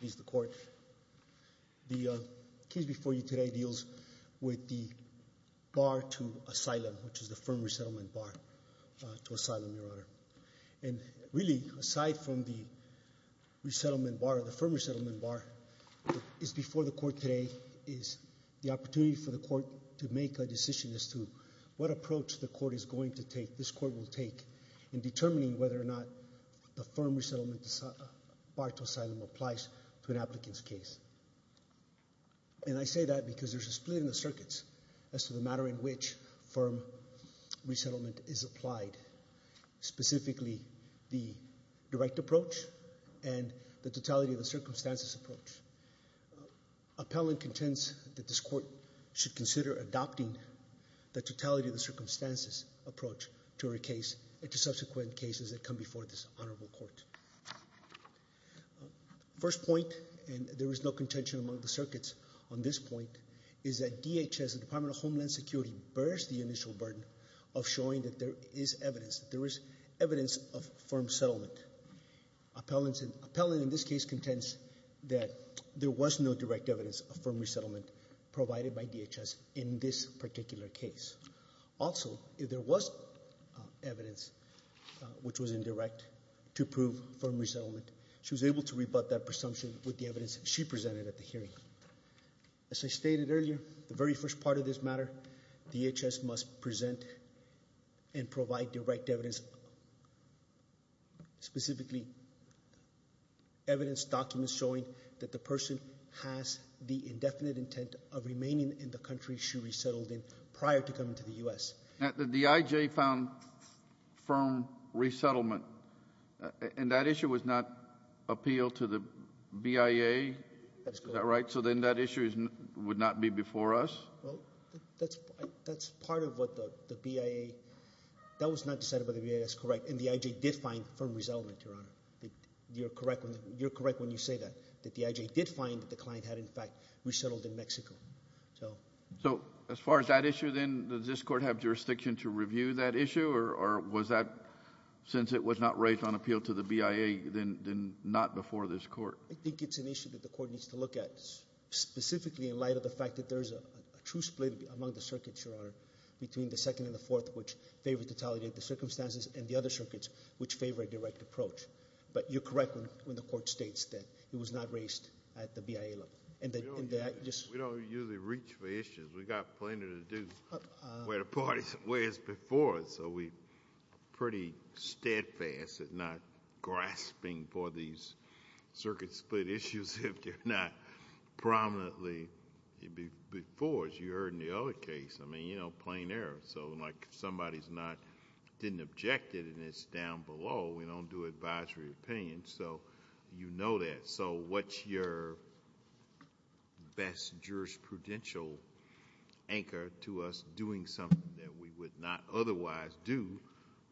He's the court the case before you today deals with the bar to asylum which is the firm resettlement bar to asylum your honor and really aside from the resettlement bar the firm resettlement bar is before the court today is the opportunity for the court to make a decision as to what approach the court is going to take this court will take in determining whether or not the firm resettlement bar to asylum applies to an applicant's case and I say that because there's a split in the circuits as to the matter in which firm resettlement is applied specifically the direct approach and the totality of the circumstances approach appellant contends that this court should consider adopting the totality of the circumstances approach to her case into subsequent cases that come before this honorable court. First point and there is no contention among the circuits on this point is that DHS Department of Homeland Security bears the initial burden of showing that there is evidence there is evidence of firm settlement appellants and appellant in this case contends that there was no direct evidence of firm resettlement provided by DHS in this particular case also if there was evidence which was indirect to prove firm resettlement she was able to rebut that presumption with the evidence she presented at the hearing as I stated earlier the very first part of this matter DHS must present and provide direct evidence specifically evidence documents showing that the person has the indefinite intent of remaining in the country she resettled in prior to coming to the U.S. that the D.I.J. found firm resettlement and that issue was not appealed to the BIA that's right so then that issues would not be before us well that's that's part of what the BIA that was not decided by the BIA that's correct and the I.J. did find firm resettlement your honor you're correct when you're correct when you say that that the I.J. did find that the issue then does this court have jurisdiction to review that issue or was that since it was not raised on appeal to the BIA then not before this court I think it's an issue that the court needs to look at specifically in light of the fact that there's a true split among the circuits your honor between the second and the fourth which favor totality of the circumstances and the other circuits which favor a direct approach but you're correct when the court states that it was not raised at the BIA level and that just we don't usually reach for issues we got plenty to do where the parties where's before so we pretty steadfast at not grasping for these circuit split issues if they're not prominently before as you heard in the other case I mean you know plain air so like somebody's not didn't object it and it's down below we don't do advisory opinion so you know that so what's your best jurisprudential anchor to us doing something that we would not otherwise do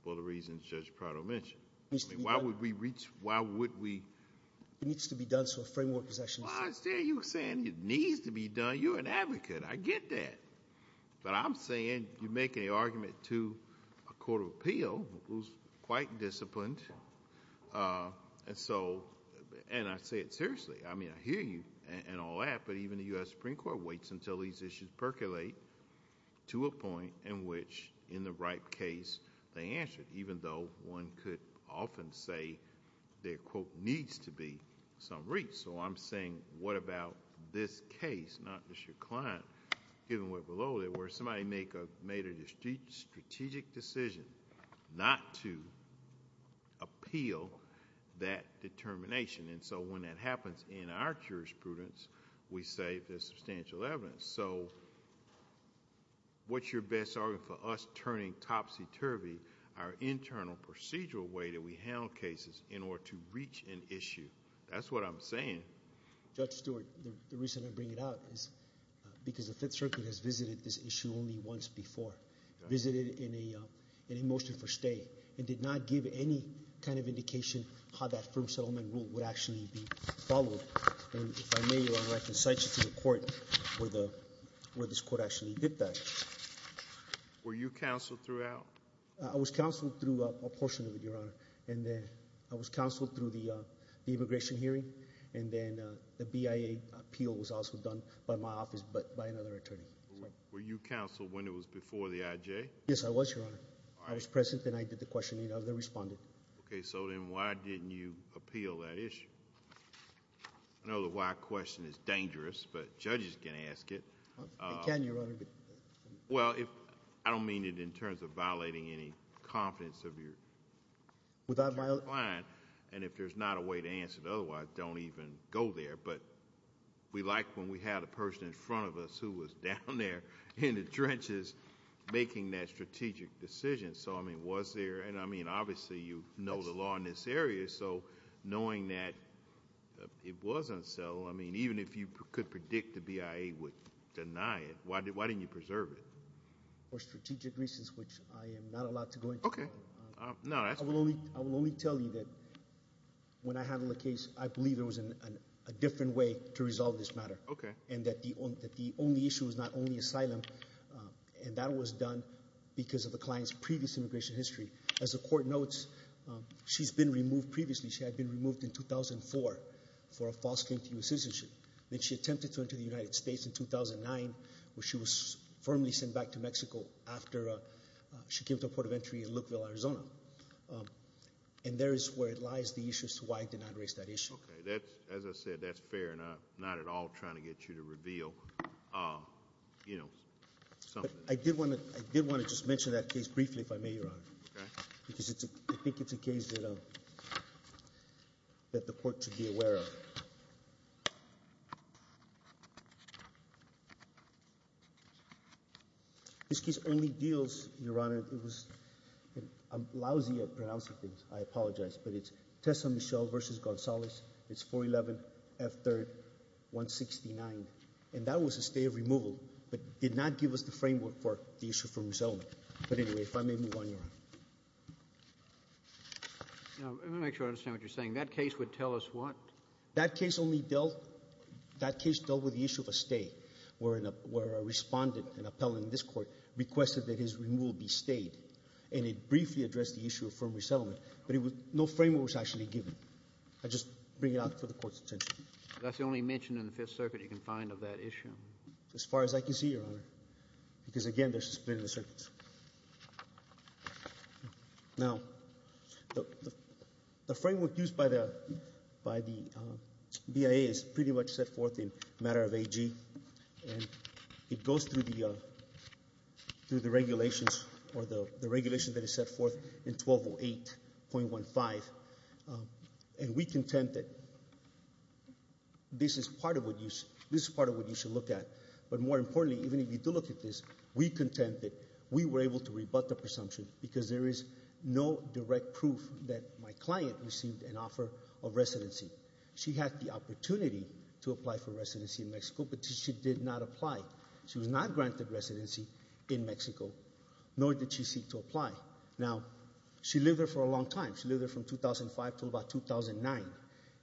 for the reasons judge Prado mentioned I mean why would we reach why would we it needs to be done so framework possessions there you were saying it needs to be done you're an advocate I get that but I'm saying you make a argument to a court of appeal who's and so and I say it seriously I mean I hear you and all that but even the US Supreme Court waits until these issues percolate to a point in which in the right case they answered even though one could often say their quote needs to be some reach so I'm saying what about this case not just your client given what below there were somebody make a made a district strategic decision not to appeal that determination and so when that happens in our jurisprudence we say there's substantial evidence so what's your best argument for us turning topsy-turvy our internal procedural way that we handle cases in order to reach an issue that's what I'm saying judge Stewart the reason I bring it out is because the Fifth Circuit has visited this issue only once before visited in a kind of indication how that firm settlement rule would actually be followed I can cite you to the court where the where this court actually did that were you counseled throughout I was counseled through a portion of it your honor and then I was counseled through the immigration hearing and then the BIA appeal was also done by my office but by another attorney were you counseled when it was before the IJ yes I was your honor I was present and I did the respondent okay so then why didn't you appeal that issue I know the why question is dangerous but judges can ask it well if I don't mean it in terms of violating any confidence of your without my line and if there's not a way to answer it otherwise don't even go there but we like when we had a person in front of us who was down there in the trenches making that strategic decision so I mean was there and I mean obviously you know the law in this area so knowing that it wasn't so I mean even if you could predict the BIA would deny it why did why didn't you preserve it for strategic reasons which I am not allowed to go okay no I will only I will only tell you that when I handle the case I believe it was in a different way to resolve this matter okay and that the only that the only issue is not only asylum and that was done because of the client's previous immigration history as the court notes she's been removed previously she had been removed in 2004 for a false claim to US citizenship then she attempted to enter the United States in 2009 where she was firmly sent back to Mexico after she came to Port of Entry in Lukeville Arizona and there is where it lies the issues to why I did not erase that issue okay that's as I said that's fair enough not at all trying to get you to reveal you know so I did want to I did want to just mention that case briefly if I may your honor because it's a big it's a case you know that the court should be aware of this case only deals your honor it was I'm lousy at pronouncing things I apologize but it's Tessa Michelle versus Gonzalez it's 411 F 3rd 169 and that was a stay of removal but did not give us the framework for the issue from his own but anyway if I may move on your honor understand what you're saying that case would tell us what that case only dealt that case dealt with the issue of a stay we're in a where a respondent and appellant in this court requested that his removal be stayed and it briefly addressed the issue of firm resettlement but it was no framework was actually given I just bring it up for the court's attention that's the only mention in the Fifth Channel as far as I can see your honor because again there's a split in the circuits now the framework used by the by the BIA is pretty much set forth in matter of AG and it goes through the through the regulations or the the regulation that is set forth in 1208.15 and we contended this is part of what you this is part of what you should look at but more importantly even if you do look at this we contend that we were able to rebut the presumption because there is no direct proof that my client received an offer of residency she had the opportunity to apply for residency in Mexico but she did not apply she was not granted residency in Mexico nor did she seek to apply now she lived there for a long time she lived there from 2005 to about 2009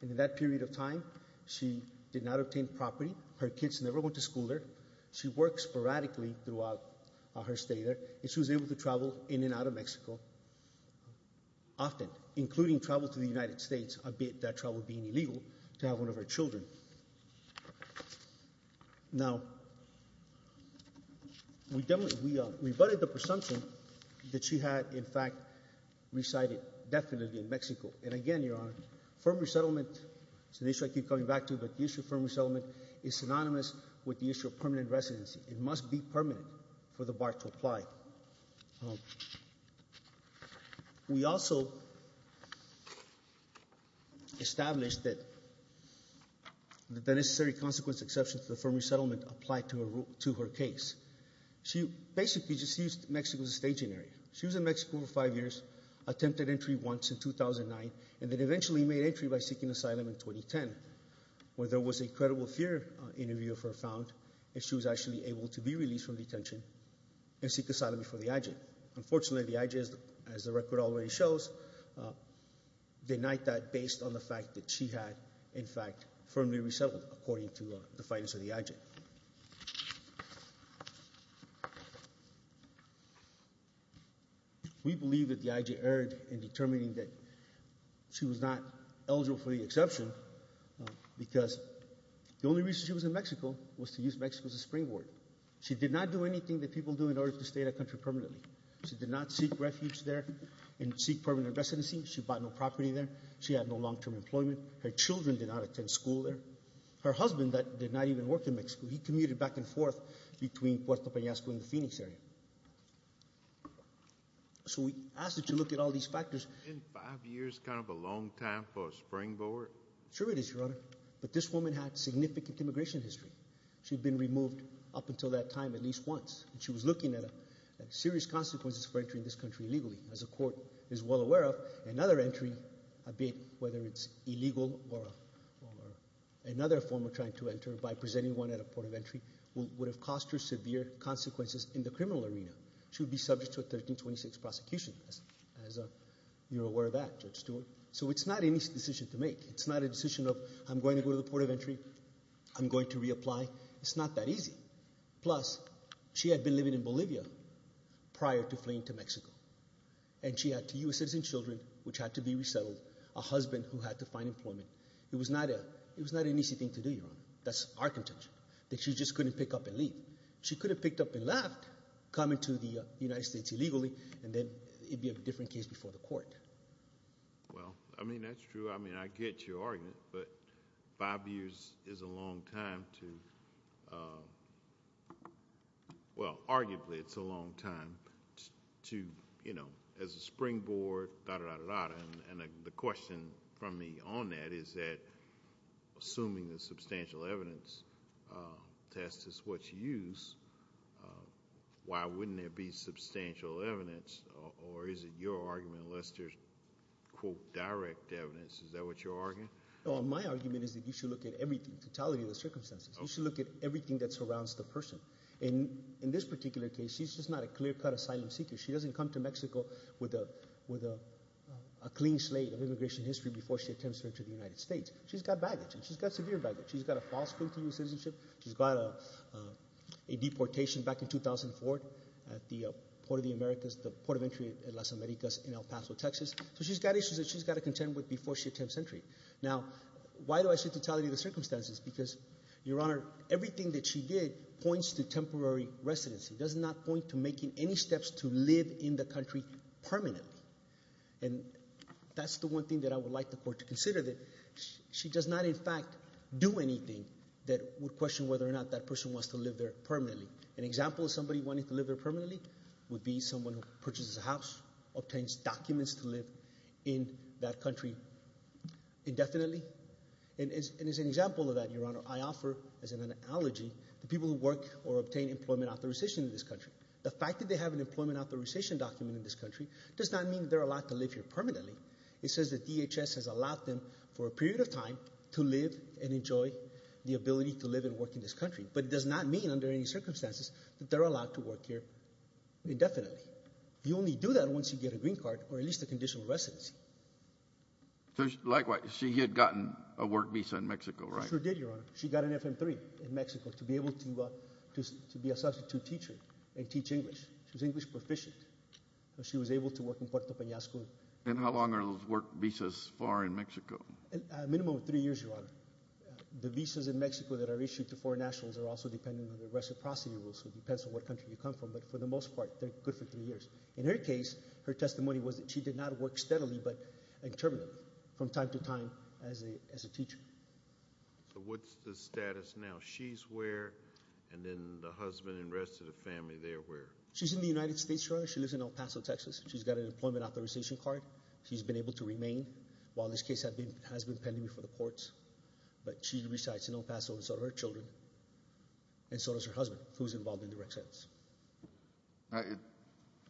and in that period of property her kids never went to school there she worked sporadically throughout her stay there and she was able to travel in and out of Mexico often including travel to the United States albeit that travel being illegal to have one of her children. Now we rebutted the presumption that she had in fact resided definitely in Mexico and again your honor firm resettlement so synonymous with the issue of permanent residency it must be permanent for the bar to apply. We also established that the necessary consequence exception to the firm resettlement applied to her case. She basically just used Mexico as a staging area. She was in Mexico for five years attempted entry once in 2009 and then eventually made entry by seeking asylum in 2010 where there was a credible fear interview of her found and she was actually able to be released from detention and seek asylum for the IJ. Unfortunately the IJ as the record already shows denied that based on the fact that she had in fact firmly resettled according to the findings of the IJ. We believe that the IJ erred in The only reason she was in Mexico was to use Mexico as a springboard. She did not do anything that people do in order to stay in a country permanently. She did not seek refuge there and seek permanent residency. She bought no property there. She had no long-term employment. Her children did not attend school there. Her husband that did not even work in Mexico he commuted back and forth between Puerto Payasco and the Phoenix area. So we asked her to look at all these factors. Isn't five years kind of a long time for a springboard? Sure it is your honor but this is a significant immigration history. She'd been removed up until that time at least once. She was looking at a serious consequences for entering this country legally. As a court is well aware of another entry, whether it's illegal or another form of trying to enter by presenting one at a port of entry would have cost her severe consequences in the criminal arena. She would be subject to a 1326 prosecution as you're aware of that Judge Stewart. So it's not any decision to make. It's not a decision of I'm going to go to the port of entry. I'm going to reapply. It's not that easy. Plus she had been living in Bolivia prior to fleeing to Mexico and she had two US citizen children which had to be resettled. A husband who had to find employment. It was not a it was not an easy thing to do your honor. That's our contention that she just couldn't pick up and leave. She could have picked up and left coming to the United States illegally and then it'd be a different case before the court. Well I mean that's true. I mean I get your argument but five years is a long time to well arguably it's a long time to you know as a springboard and the question from me on that is that assuming the substantial evidence test is what you use, why wouldn't there be substantial evidence or is it your argument unless there's quote direct evidence. Is that what you're arguing? Well my argument is that you should look at everything. Totality of the circumstances. You should look at everything that surrounds the person. In in this particular case she's just not a clear-cut asylum seeker. She doesn't come to Mexico with a with a clean slate of immigration history before she attempts to enter the United States. She's got baggage and she's got severe baggage. She's got a false claim to US citizenship. She's got a deportation back in 2004 at the Port of the Americas, the port of She's got issues that she's got to contend with before she attempts entry. Now why do I say totality of the circumstances? Because your honor everything that she did points to temporary residency. Does not point to making any steps to live in the country permanently and that's the one thing that I would like the court to consider that she does not in fact do anything that would question whether or not that person wants to live there permanently. An example of somebody wanting to live there permanently would be someone who has documents to live in that country indefinitely and as an example of that your honor I offer as an analogy the people who work or obtain employment authorization in this country. The fact that they have an employment authorization document in this country does not mean they're allowed to live here permanently. It says that DHS has allowed them for a period of time to live and enjoy the ability to live and work in this country but it does not mean under any circumstances that they're allowed to work here indefinitely. You only do that once you get a green card or at least a conditional residency. Likewise she had gotten a work visa in Mexico right? Sure did your honor. She got an FM3 in Mexico to be able to be a substitute teacher and teach English. She was English proficient. She was able to work in Puerto Penasco. And how long are those work visas for in Mexico? A minimum of three years your honor. The visas in Mexico that are issued to foreign nationals are also dependent on the reciprocity rules so it depends on what country you come from but for the three years. In her case her testimony was that she did not work steadily but intermittently from time to time as a teacher. So what's the status now? She's where and then the husband and rest of the family they're where? She's in the United States your honor. She lives in El Paso, Texas. She's got an employment authorization card. She's been able to remain while this case has been pending before the courts but she resides in El Paso and so do her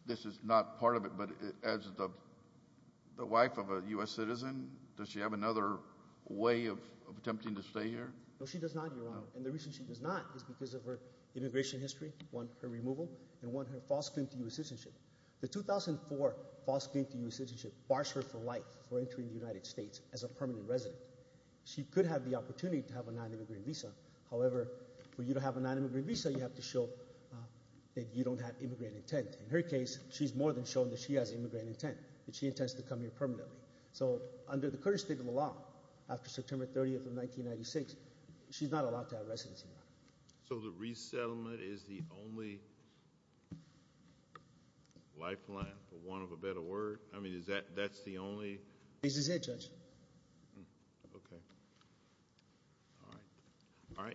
this is not part of it but as the the wife of a US citizen does she have another way of attempting to stay here? No she does not your honor and the reason she does not is because of her immigration history, one her removal and one her false claim to US citizenship. The 2004 false claim to US citizenship bars her for life for entering the United States as a permanent resident. She could have the opportunity to have a non-immigrant visa however for you to have a non-immigrant visa you have to show that you don't have immigrant intent. In her case she's more than shown that she has immigrant intent that she intends to come here permanently. So under the current state of the law after September 30th of 1996 she's not allowed to have residency. So the resettlement is the only lifeline for want of a better word? I mean is that that's the only? This is it May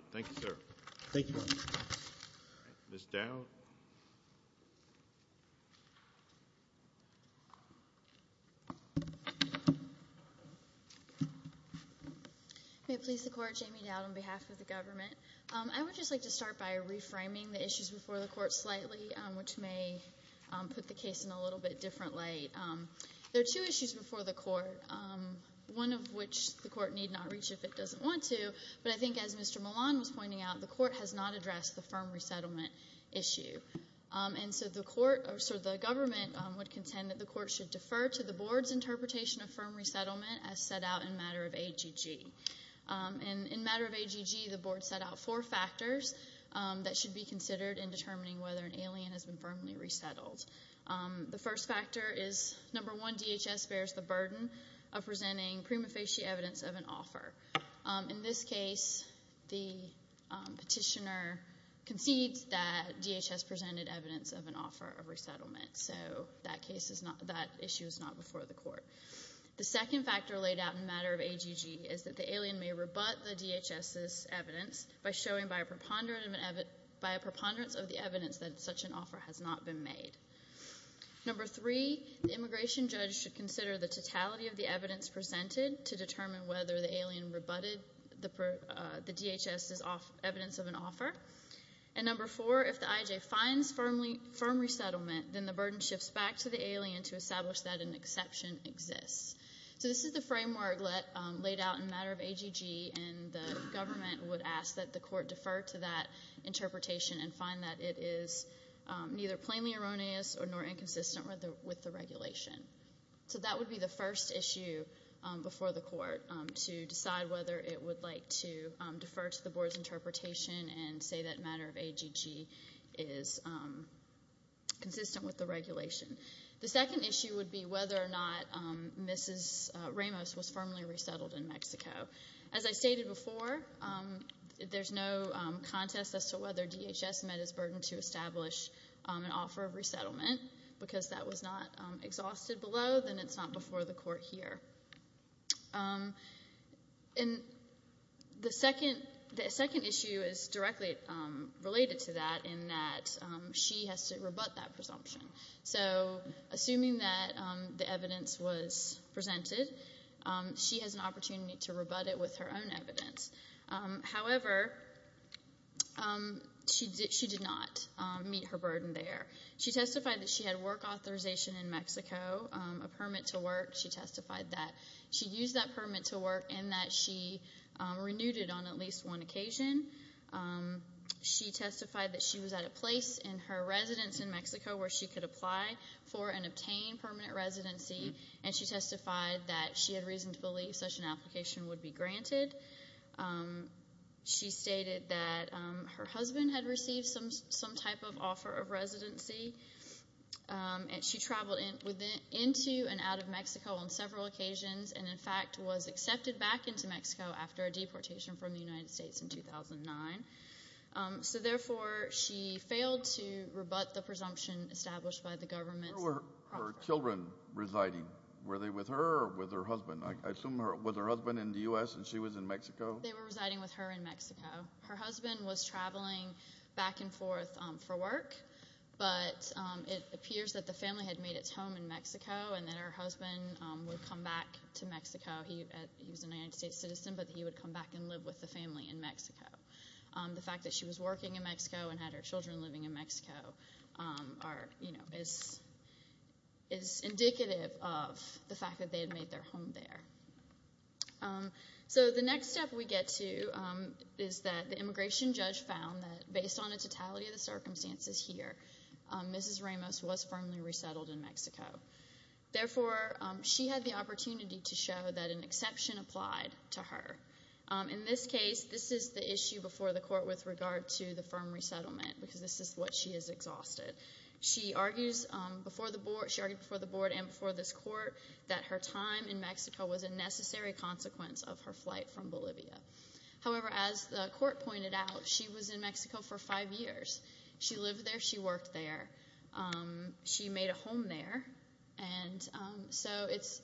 it please the court, Jamie Dowd on behalf of the government. I would just like to start by reframing the issues before the court slightly which may put the case in a little bit different light. There are two issues before the court one of which the court need not reach if it doesn't want to but I think as Mr. Milan was pointing out the court has not addressed the firm resettlement issue and so the court so the government would contend that the court should defer to the board's interpretation of firm resettlement as set out in matter of AGG. In matter of AGG the board set out four factors that should be considered in determining whether an alien has been firmly resettled. The first factor is number one DHS bears the burden of presenting prima facie evidence of an offer. In this case the petitioner concedes that DHS presented evidence of an offer of resettlement so that case is not that issue is not before the court. The second factor laid out in matter of AGG is that the alien may rebut the DHS's evidence by showing by a preponderance of the evidence that such an offer has not been made. Number three the immigration judge should consider the totality of the DHS's evidence of an offer and number four if the IJ finds firmly firm resettlement then the burden shifts back to the alien to establish that an exception exists. So this is the framework laid out in matter of AGG and the government would ask that the court defer to that interpretation and find that it is neither plainly erroneous nor inconsistent with the regulation. So that would be the first issue before the court to decide whether it would like to defer to the board's interpretation and say that matter of AGG is consistent with the regulation. The second issue would be whether or not Mrs. Ramos was firmly resettled in Mexico. As I stated before there's no contest as to whether DHS met its burden to establish an offer of resettlement because that was not exhausted below then it's not before the court here. The second issue is directly related to that in that she has to rebut that presumption. So assuming that the evidence was presented she has an opportunity to rebut it with her own evidence. However she did not meet her burden there. She testified that she had work authorization in Mexico, a permit to work and that she renewed it on at least one occasion. She testified that she was at a place in her residence in Mexico where she could apply for and obtain permanent residency and she testified that she had reason to believe such an application would be granted. She stated that her husband had received some type of offer of residency and she traveled into and out of Mexico on occasions and in fact was accepted back into Mexico after a deportation from the United States in 2009. So therefore she failed to rebut the presumption established by the government. Where were her children residing? Were they with her or with her husband? I assume was her husband in the U.S. and she was in Mexico? They were residing with her in Mexico. Her husband was traveling back and forth for work but it appears that the family had made its home in Mexico and that her husband would come back to Mexico. He was a United States citizen but he would come back and live with the family in Mexico. The fact that she was working in Mexico and had her children living in Mexico is indicative of the fact that they had made their home there. So the next step we get to is that the immigration judge found that based on the totality of the circumstances here, Mrs. Ramos was firmly resettled in Mexico. Therefore she had the opportunity to show that an exception applied to her. In this case this is the issue before the court with regard to the firm resettlement because this is what she is exhausted. She argues before the board and before this court that her time in Mexico was a necessary consequence of her flight from Bolivia. However as the court pointed out she was in Mexico for five years. She lived there, she worked there, she made a home there and so it's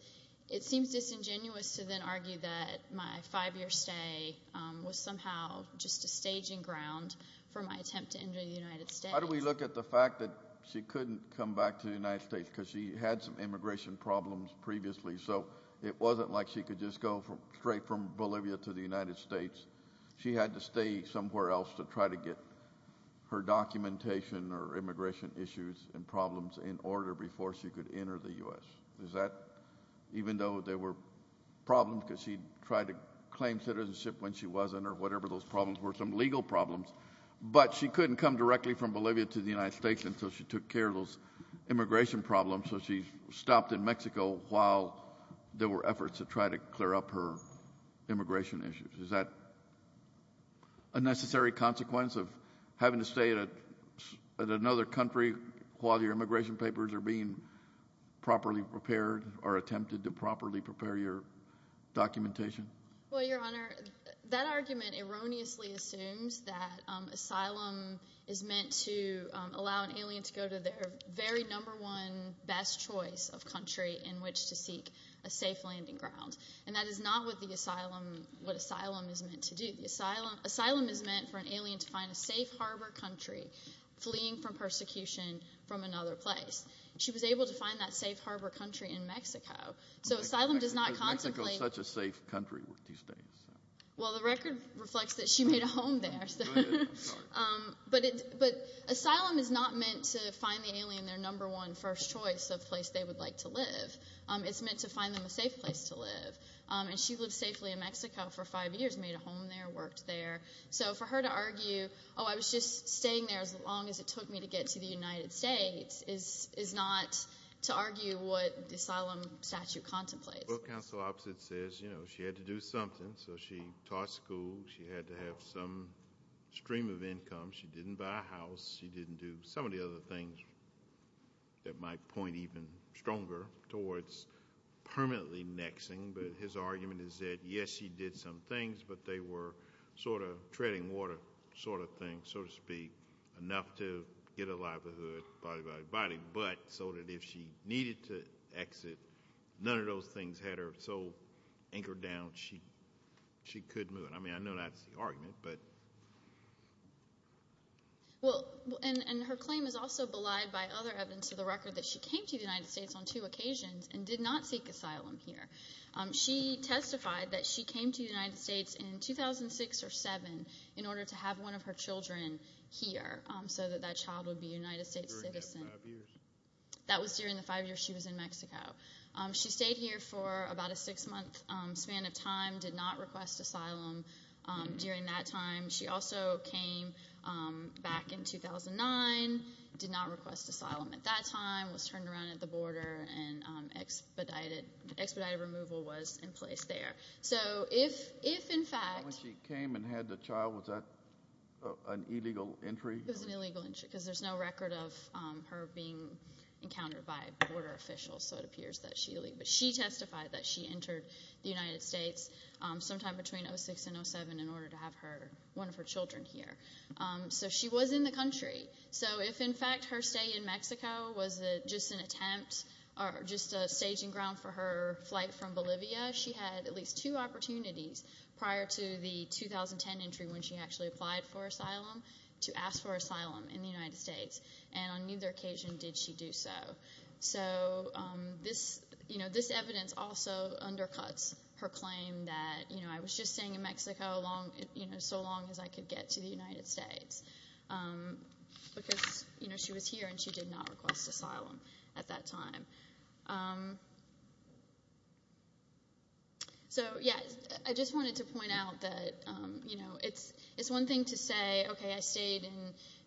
it seems disingenuous to then argue that my five year stay was somehow just a staging ground for my attempt to enter the United States. How do we look at the fact that she couldn't come back to the United States because she had some immigration problems previously so it wasn't like she could just go from straight from Bolivia to the United States. She had to stay somewhere else to try to get her documentation or immigration issues and before she could enter the U.S. Is that even though there were problems because she tried to claim citizenship when she wasn't or whatever those problems were some legal problems but she couldn't come directly from Bolivia to the United States until she took care of those immigration problems so she stopped in Mexico while there were efforts to try to clear up her immigration issues. Is that a necessary consequence of having to stay at another country while your properly prepared or attempted to properly prepare your documentation? Well your honor that argument erroneously assumes that asylum is meant to allow an alien to go to their very number one best choice of country in which to seek a safe landing ground and that is not what the asylum what asylum is meant to do. The asylum asylum is meant for an alien to find a safe harbor country fleeing from persecution from another place. She was able to find that safe harbor country in Mexico so asylum does not contemplate. Mexico is such a safe country these days. Well the record reflects that she made a home there but it but asylum is not meant to find the alien their number one first choice of place they would like to live. It's meant to find them a safe place to live and she lived safely in Mexico for five years made a home there worked there so for her to argue oh I was just staying there as long as it took me to get to the United States is is not to argue what the asylum statute contemplates. Well counsel opposite says you know she had to do something so she taught school she had to have some stream of income she didn't buy a house she didn't do some of the other things that might point even stronger towards permanently nexing but his argument is that yes she did some things but they were sort of shedding water sort of thing so to speak enough to get a livelihood but so that if she needed to exit none of those things had her so anchored down she she could move I mean I know that's the argument but. Well and her claim is also belied by other evidence of the record that she came to the United States on two occasions and did not seek asylum here. She testified that she came to the United States in 2006 or 7 in order to have one of her children here so that that child would be a United States citizen. That was during the five years she was in Mexico. She stayed here for about a six month span of time did not request asylum during that time she also came back in 2009 did not request asylum at that time was turned around at the border and expedited expedited removal was in place there so if if in fact. When she came and had the child was that an illegal entry? It was an illegal entry because there's no record of her being encountered by border officials so it appears that she but she testified that she entered the United States sometime between 06 and 07 in order to have her one of her children here so she was in the country so if in fact her stay in Mexico was it just an ground for her flight from Bolivia she had at least two opportunities prior to the 2010 entry when she actually applied for asylum to ask for asylum in the United States and on either occasion did she do so so this you know this evidence also undercuts her claim that you know I was just staying in Mexico long you know so long as I could get to the United States because you know she was here and she did not request asylum at that time. So yeah I just wanted to point out that you know it's it's one thing to say okay I stayed in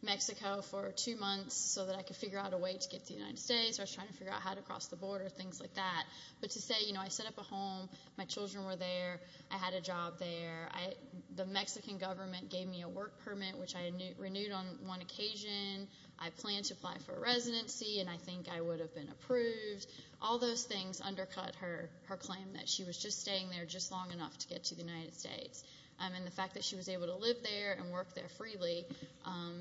Mexico for two months so that I could figure out a way to get the United States was trying to figure out how to cross the border things like that but to say you know I set up a home my children were there I had a job there the Mexican government gave me a work permit which I renewed on one occasion I plan to apply for residency and I think I would have been approved all those things undercut her her claim that she was just staying there just long enough to get to the United States and the fact that she was able to live there and work there freely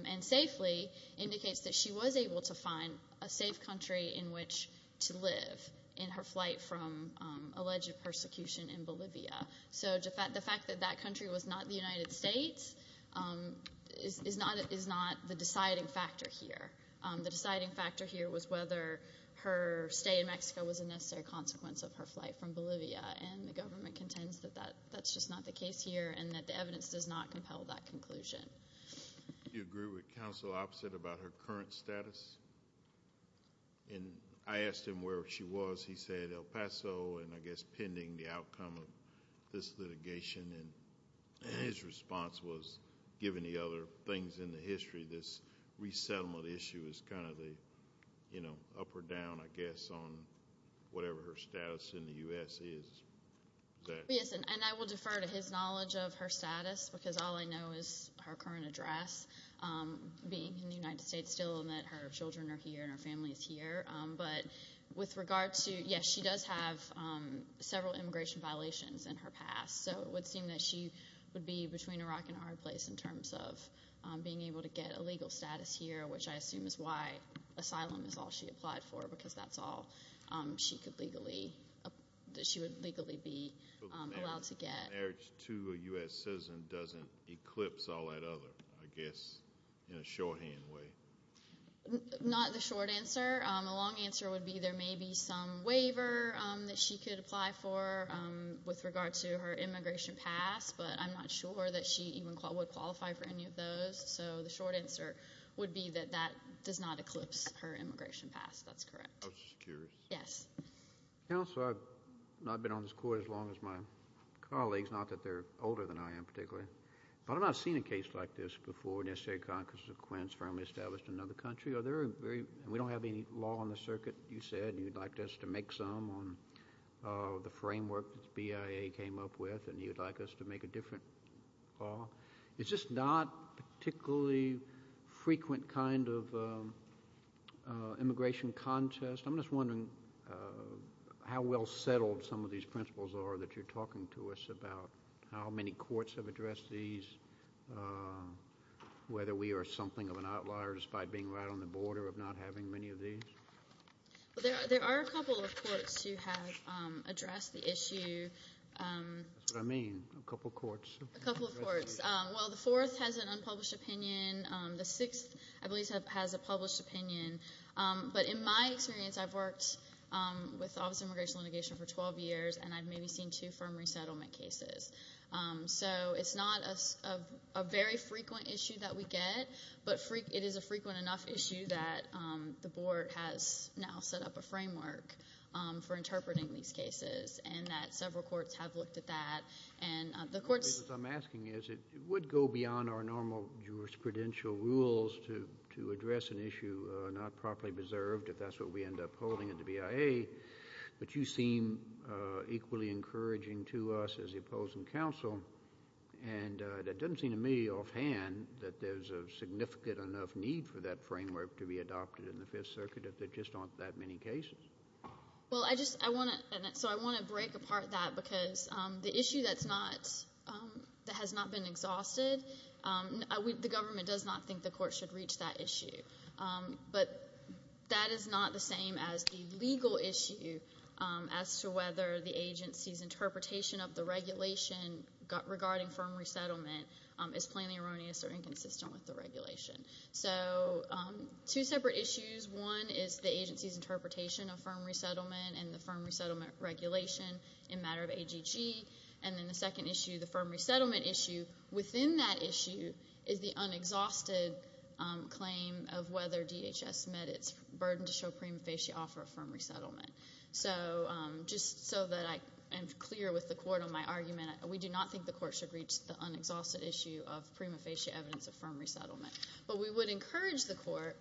and safely indicates that she was able to find a safe country in which to live in her flight from alleged persecution in Bolivia. So the fact that that country was not the United States is not is not the deciding factor here. The deciding factor here was whether her stay in Mexico was a necessary consequence of her flight from Bolivia and the government contends that that that's just not the case here and that the evidence does not compel that conclusion. Do you agree with counsel opposite about her current status? And I asked him where she was he said El Paso and I guess pending the outcome of this litigation and his response was given the other things in the history this resettlement issue is kind of the you know up or down I guess on whatever her status in the US is. Yes and I will defer to his knowledge of her status because all I know is her current address being in the United States still and that her children are here and her family is here but with regard to yes she does have several immigration violations in her past so it would seem that she would be between a rock and a hard place in terms of being able to get a legal status here which I assume is why asylum is all she applied for because that's all she could legally that she would legally be allowed to get. So marriage to a US citizen doesn't eclipse all that other I guess in a shorthand way. Not the short answer a long answer would be there may be some waiver that she could apply for with regard to her immigration past but I'm not sure that she even would qualify for any of those so the short answer would be that that does not eclipse her immigration past that's correct. Yes. Counselor I've not been on this court as long as my colleagues not that they're older than I am particularly but I've not seen a case like this before in a state Conquest of Queens firmly established another country are there very we don't have any law on the circuit you said you'd like us to make some on the framework BIA came up with and you'd like us to make a different law it's just not particularly frequent kind of immigration contest I'm just wondering how well settled some of these principles are that you're talking to us about how many courts have addressed these whether we are something of an outliers by being right on the border of not having many of these there are a couple of courts who have addressed the issue I mean a couple courts well the fourth has an unpublished opinion the sixth has a published opinion but in my experience I've worked with immigration litigation for 12 years and I've maybe seen two firm resettlement cases so it's not a very frequent issue that we get but free it is a frequent enough issue that the board has now set up a framework for interpreting these cases and that several courts have looked at that and the courts I'm asking is it would go beyond our normal jurisprudential rules to to address an issue not properly preserved if that's what we end up holding at the BIA but you seem equally encouraging to us as the opposing counsel and that doesn't seem to me offhand that there's a significant enough need for that framework to be adopted in the Fifth Circuit if there just aren't that many cases well I just I want to so I want to break apart that because the issue that's not that has not been exhausted I we the government does not think the court should reach that issue but that is not the same as the legal issue as to whether the agency's interpretation of the regulation regarding firm resettlement is plainly erroneous or inconsistent with the regulation so two separate issues one is the agency's interpretation of firm resettlement and the firm resettlement regulation in matter of AGG and then the second issue the firm resettlement issue within that issue is the unexhausted claim of whether DHS met its burden to show prima facie offer firm resettlement so just so that I am clear with the court on my argument we do not think the court should reach the unexhausted issue of prima facie evidence of firm resettlement but we would encourage the court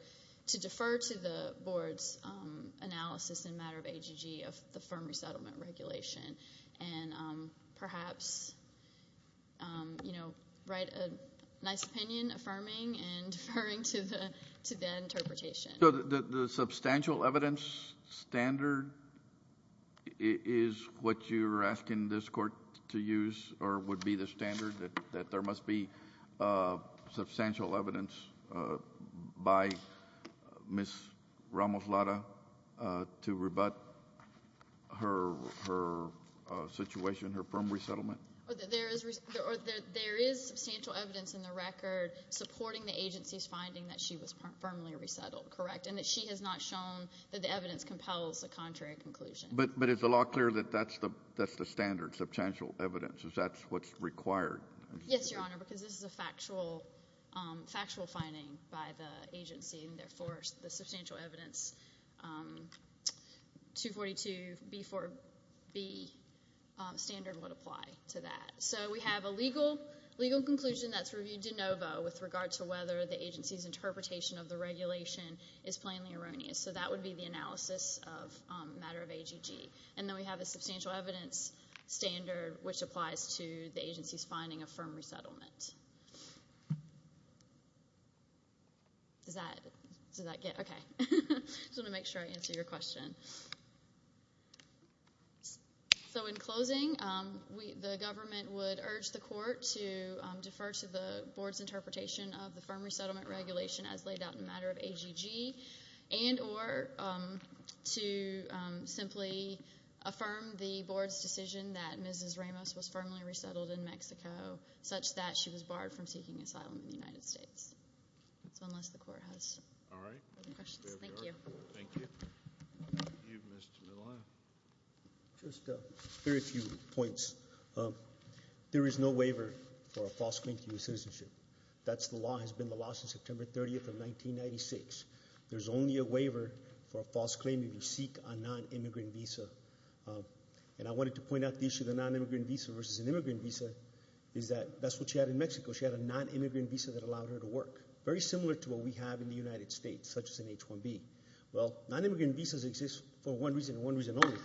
to defer to the board's analysis in matter of AGG of the firm resettlement regulation and perhaps you know write a nice opinion affirming and deferring to the to the interpretation the substantial evidence standard is what you're asking this court to use or would be the standard that there must be substantial evidence by miss Ramos Lada to rebut her situation her firm resettlement there is substantial evidence in the record supporting the agency's finding that she was firmly resettled correct and that she has not shown that the evidence compels the contrary conclusion but but it's a lot clearer that that's the that's the standard substantial evidence is that's what's required yes your honor because this is a factual factual finding by the agency and therefore the substantial evidence 242b4b standard would apply to that so we have a legal legal conclusion that's reviewed de novo with regard to whether the agency's interpretation of the regulation is plainly erroneous so that would be the analysis of matter of AGG and then we have a substantial evidence standard which applies to the agency's finding a firm resettlement so in closing we the government would urge the court to defer to the board's interpretation of the firm resettlement regulation as laid out in matter of AGG and or to simply affirm the board's decision that mrs. Ramos was firmly resettled in Mexico such that she was barred from seeking asylum in the United States very few points there is no waiver for a false claim to citizenship that's the law has been lost in September 30th of 1996 there's only a waiver for a false claim to seek a non-immigrant visa and I wanted to point out the issue the non-immigrant visa versus an immigrant visa is that that's what she had in Mexico she had a non-immigrant visa that allowed her to work very similar to what we have in the United States such as an H-1B well non-immigrant visas exist for one reason one reason only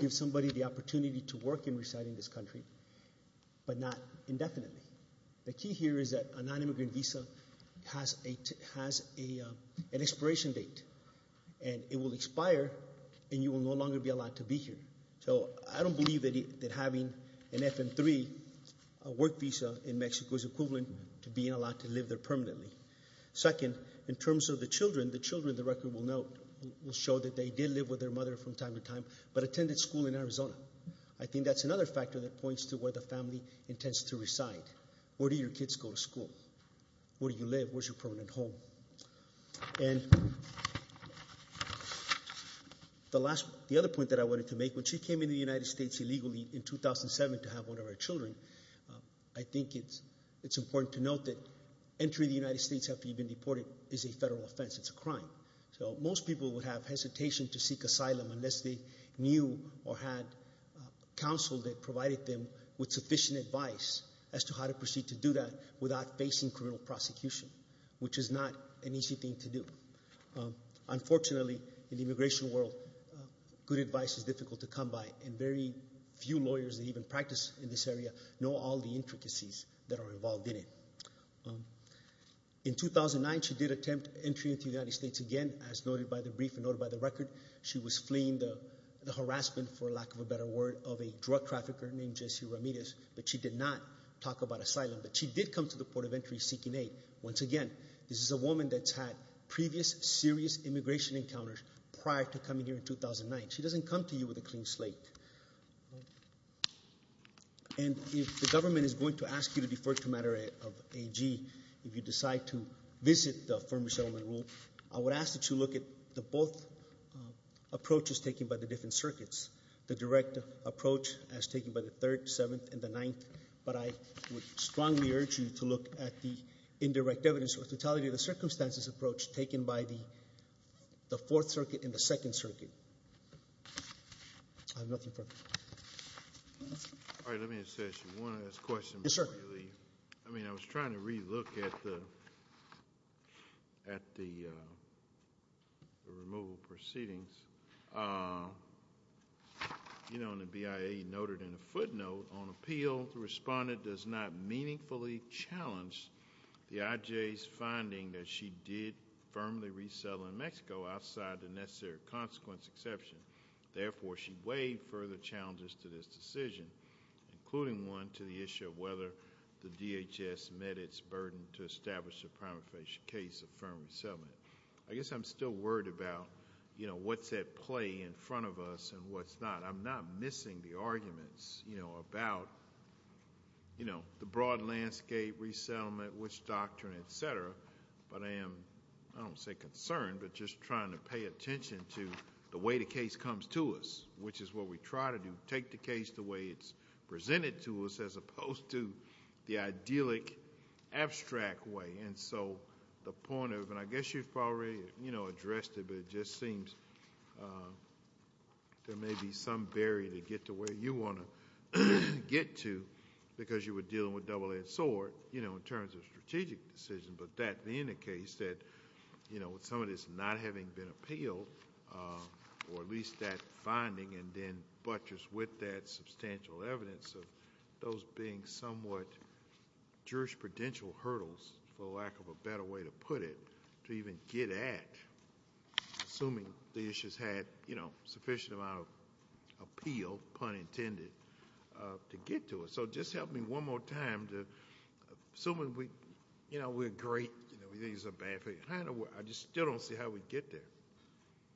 give somebody the opportunity to work in residing this country but not indefinitely. The key here is that a non-immigrant visa has an expiration date and it will expire and you will no longer be allowed to be here so I don't believe that having an FM3 work visa in Mexico is equivalent to being allowed to live there permanently. Second in terms of the children the children the record will note will show that they did live with their mother from time to time but attended school in Arizona I think that's another factor that points to where the family intends to reside. Where do your kids go to school? Where do you live? Where's your permanent home? And the last the other point that I wanted to make when she came in the United States illegally in 2007 to have one of our children I think it's it's important to note that entry the United States after you've been deported is a federal offense it's a crime so most people would have hesitation to seek asylum unless they knew or had counsel that provided them with sufficient advice as to how to proceed to do that without facing criminal prosecution which is not an easy thing to do. Unfortunately in the immigration world good advice is difficult to come by and very few lawyers that even practice in this area know all the intricacies that are involved in it. In 2009 she did attempt entry into the United States again as noted by the brief and noted by the harassment for lack of a better word of a drug trafficker named Jesse Ramirez but she did not talk about asylum but she did come to the port of entry seeking aid. Once again this is a woman that's had previous serious immigration encounters prior to coming here in 2009 she doesn't come to you with a clean slate. And if the government is going to ask you to defer to matter of AG if you decide to visit the Firm Resettlement Rule I would ask that you look at the both approaches taken by the different circuits. The direct approach as taken by the 3rd, 7th, and the 9th but I would strongly urge you to look at the indirect evidence or totality of the circumstances approach taken by the 4th Circuit and the 2nd Circuit. I was trying to re-look at the at the removal proceedings. You know in the BIA noted in a footnote on appeal the respondent does not meaningfully challenge the IJ's finding that she did firmly resettle in Mexico outside the necessary consequence exception. Therefore she weighed further challenges to this decision including one to the issue of whether the DHS met its burden to establish a prima facie case of firm resettlement. I guess I'm still worried about you know what's at play in front of us and what's not. I'm not missing the arguments you know about you know the broad landscape resettlement, which is what we try to do. Take the case the way it's presented to us as opposed to the idyllic abstract way and so the point of and I guess you've already you know addressed it but it just seems there may be some barrier to get to where you want to get to because you were dealing with double edged sword you know in terms of strategic decision but that being the case that you know with some of this not having been appealed or at least that finding and then butchers with that substantial evidence of those being somewhat jurisprudential hurdles for lack of a better way to put it to even get at assuming the issues had you know sufficient amount of appeal pun intended to get to it. So just help me one more time to assuming we you know we're great, we think it's a bad thing. I just still don't see how we get there.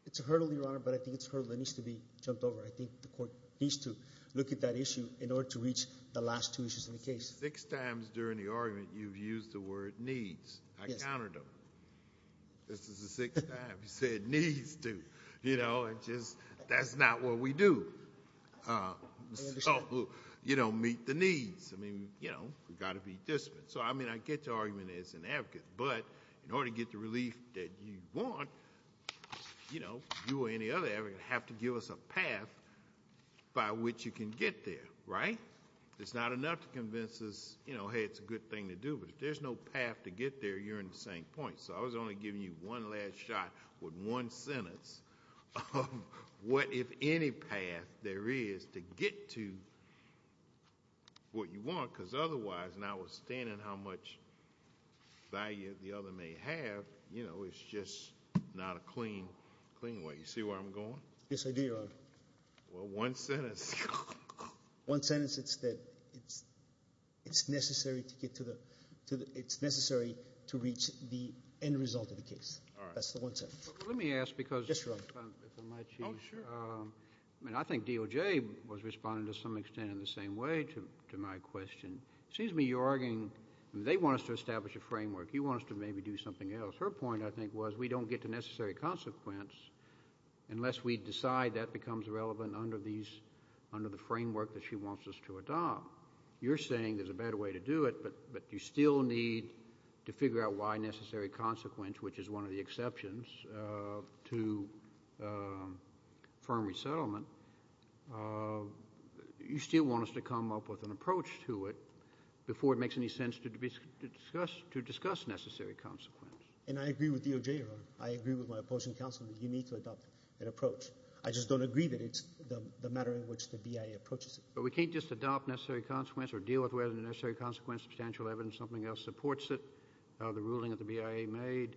It's a hurdle your honor but I think it's a hurdle that needs to be jumped over. I think the court needs to look at that issue in order to reach the last two issues in the case. Six times during the argument you've used the word needs. I countered them. This is the sixth time. You said needs to you know and just that's not what we do. You don't meet the needs. I mean you know we've got to be disciplined. So I mean I get your argument as an advocate but in order to get the relief that you want you know you or any other advocate have to give us a path by which you can get there right? It's not enough to convince us you know hey it's a good thing to do but if there's no path to get there you're in the same point. So I was only giving you one last shot with one sentence. What if any path there is to get to what you want because otherwise notwithstanding how much value the other may have you know it's just not a clean way. You see where I'm going? Well one sentence. One sentence it's that it's necessary to get to the it's necessary to reach the end result of the case. That's the one sentence. Let me ask because if I might choose. I mean I think DOJ was responding to some extent in the same way to my question. It seems to me you're arguing they want us to establish a framework. You want us to maybe do something else. Her point I think was we don't get to necessary consequence unless we decide that becomes relevant under these under the framework that she wants us to adopt. You're saying there's a better way to do it but you still need to figure out why necessary consequence which is one of the exceptions to firm resettlement. You still want us to come up with an approach to it before it makes any sense to discuss necessary consequence. And I agree with DOJ. I agree with my opposing counsel that you need to adopt an approach. I just don't agree that it's the matter in which the BIA approaches it. But we can't just adopt necessary consequence or deal with whether necessary consequence substantial evidence something else supports it. The ruling of the BIA made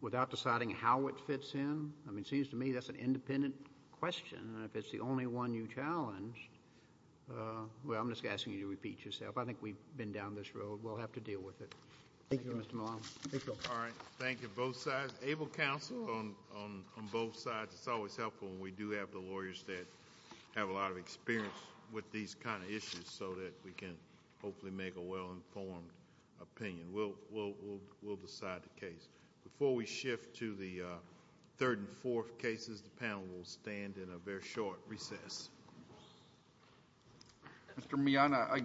without deciding how it fits in. I mean it seems to me that's an independent question. And if it's the only one you challenge. Well I'm just asking you to repeat yourself. I think we've been down this road. We'll have to deal with it. Thank you Mr. Malone. Thank you. All right. Thank you both sides. Able counsel on both sides. It's always helpful when we do have the lawyers that have a lot of experience with these kind of issues so that we can hopefully make a well-informed opinion. We'll decide the case. Before we shift to the third and fourth cases the panel will stand in a very short recess. Mr. Malone.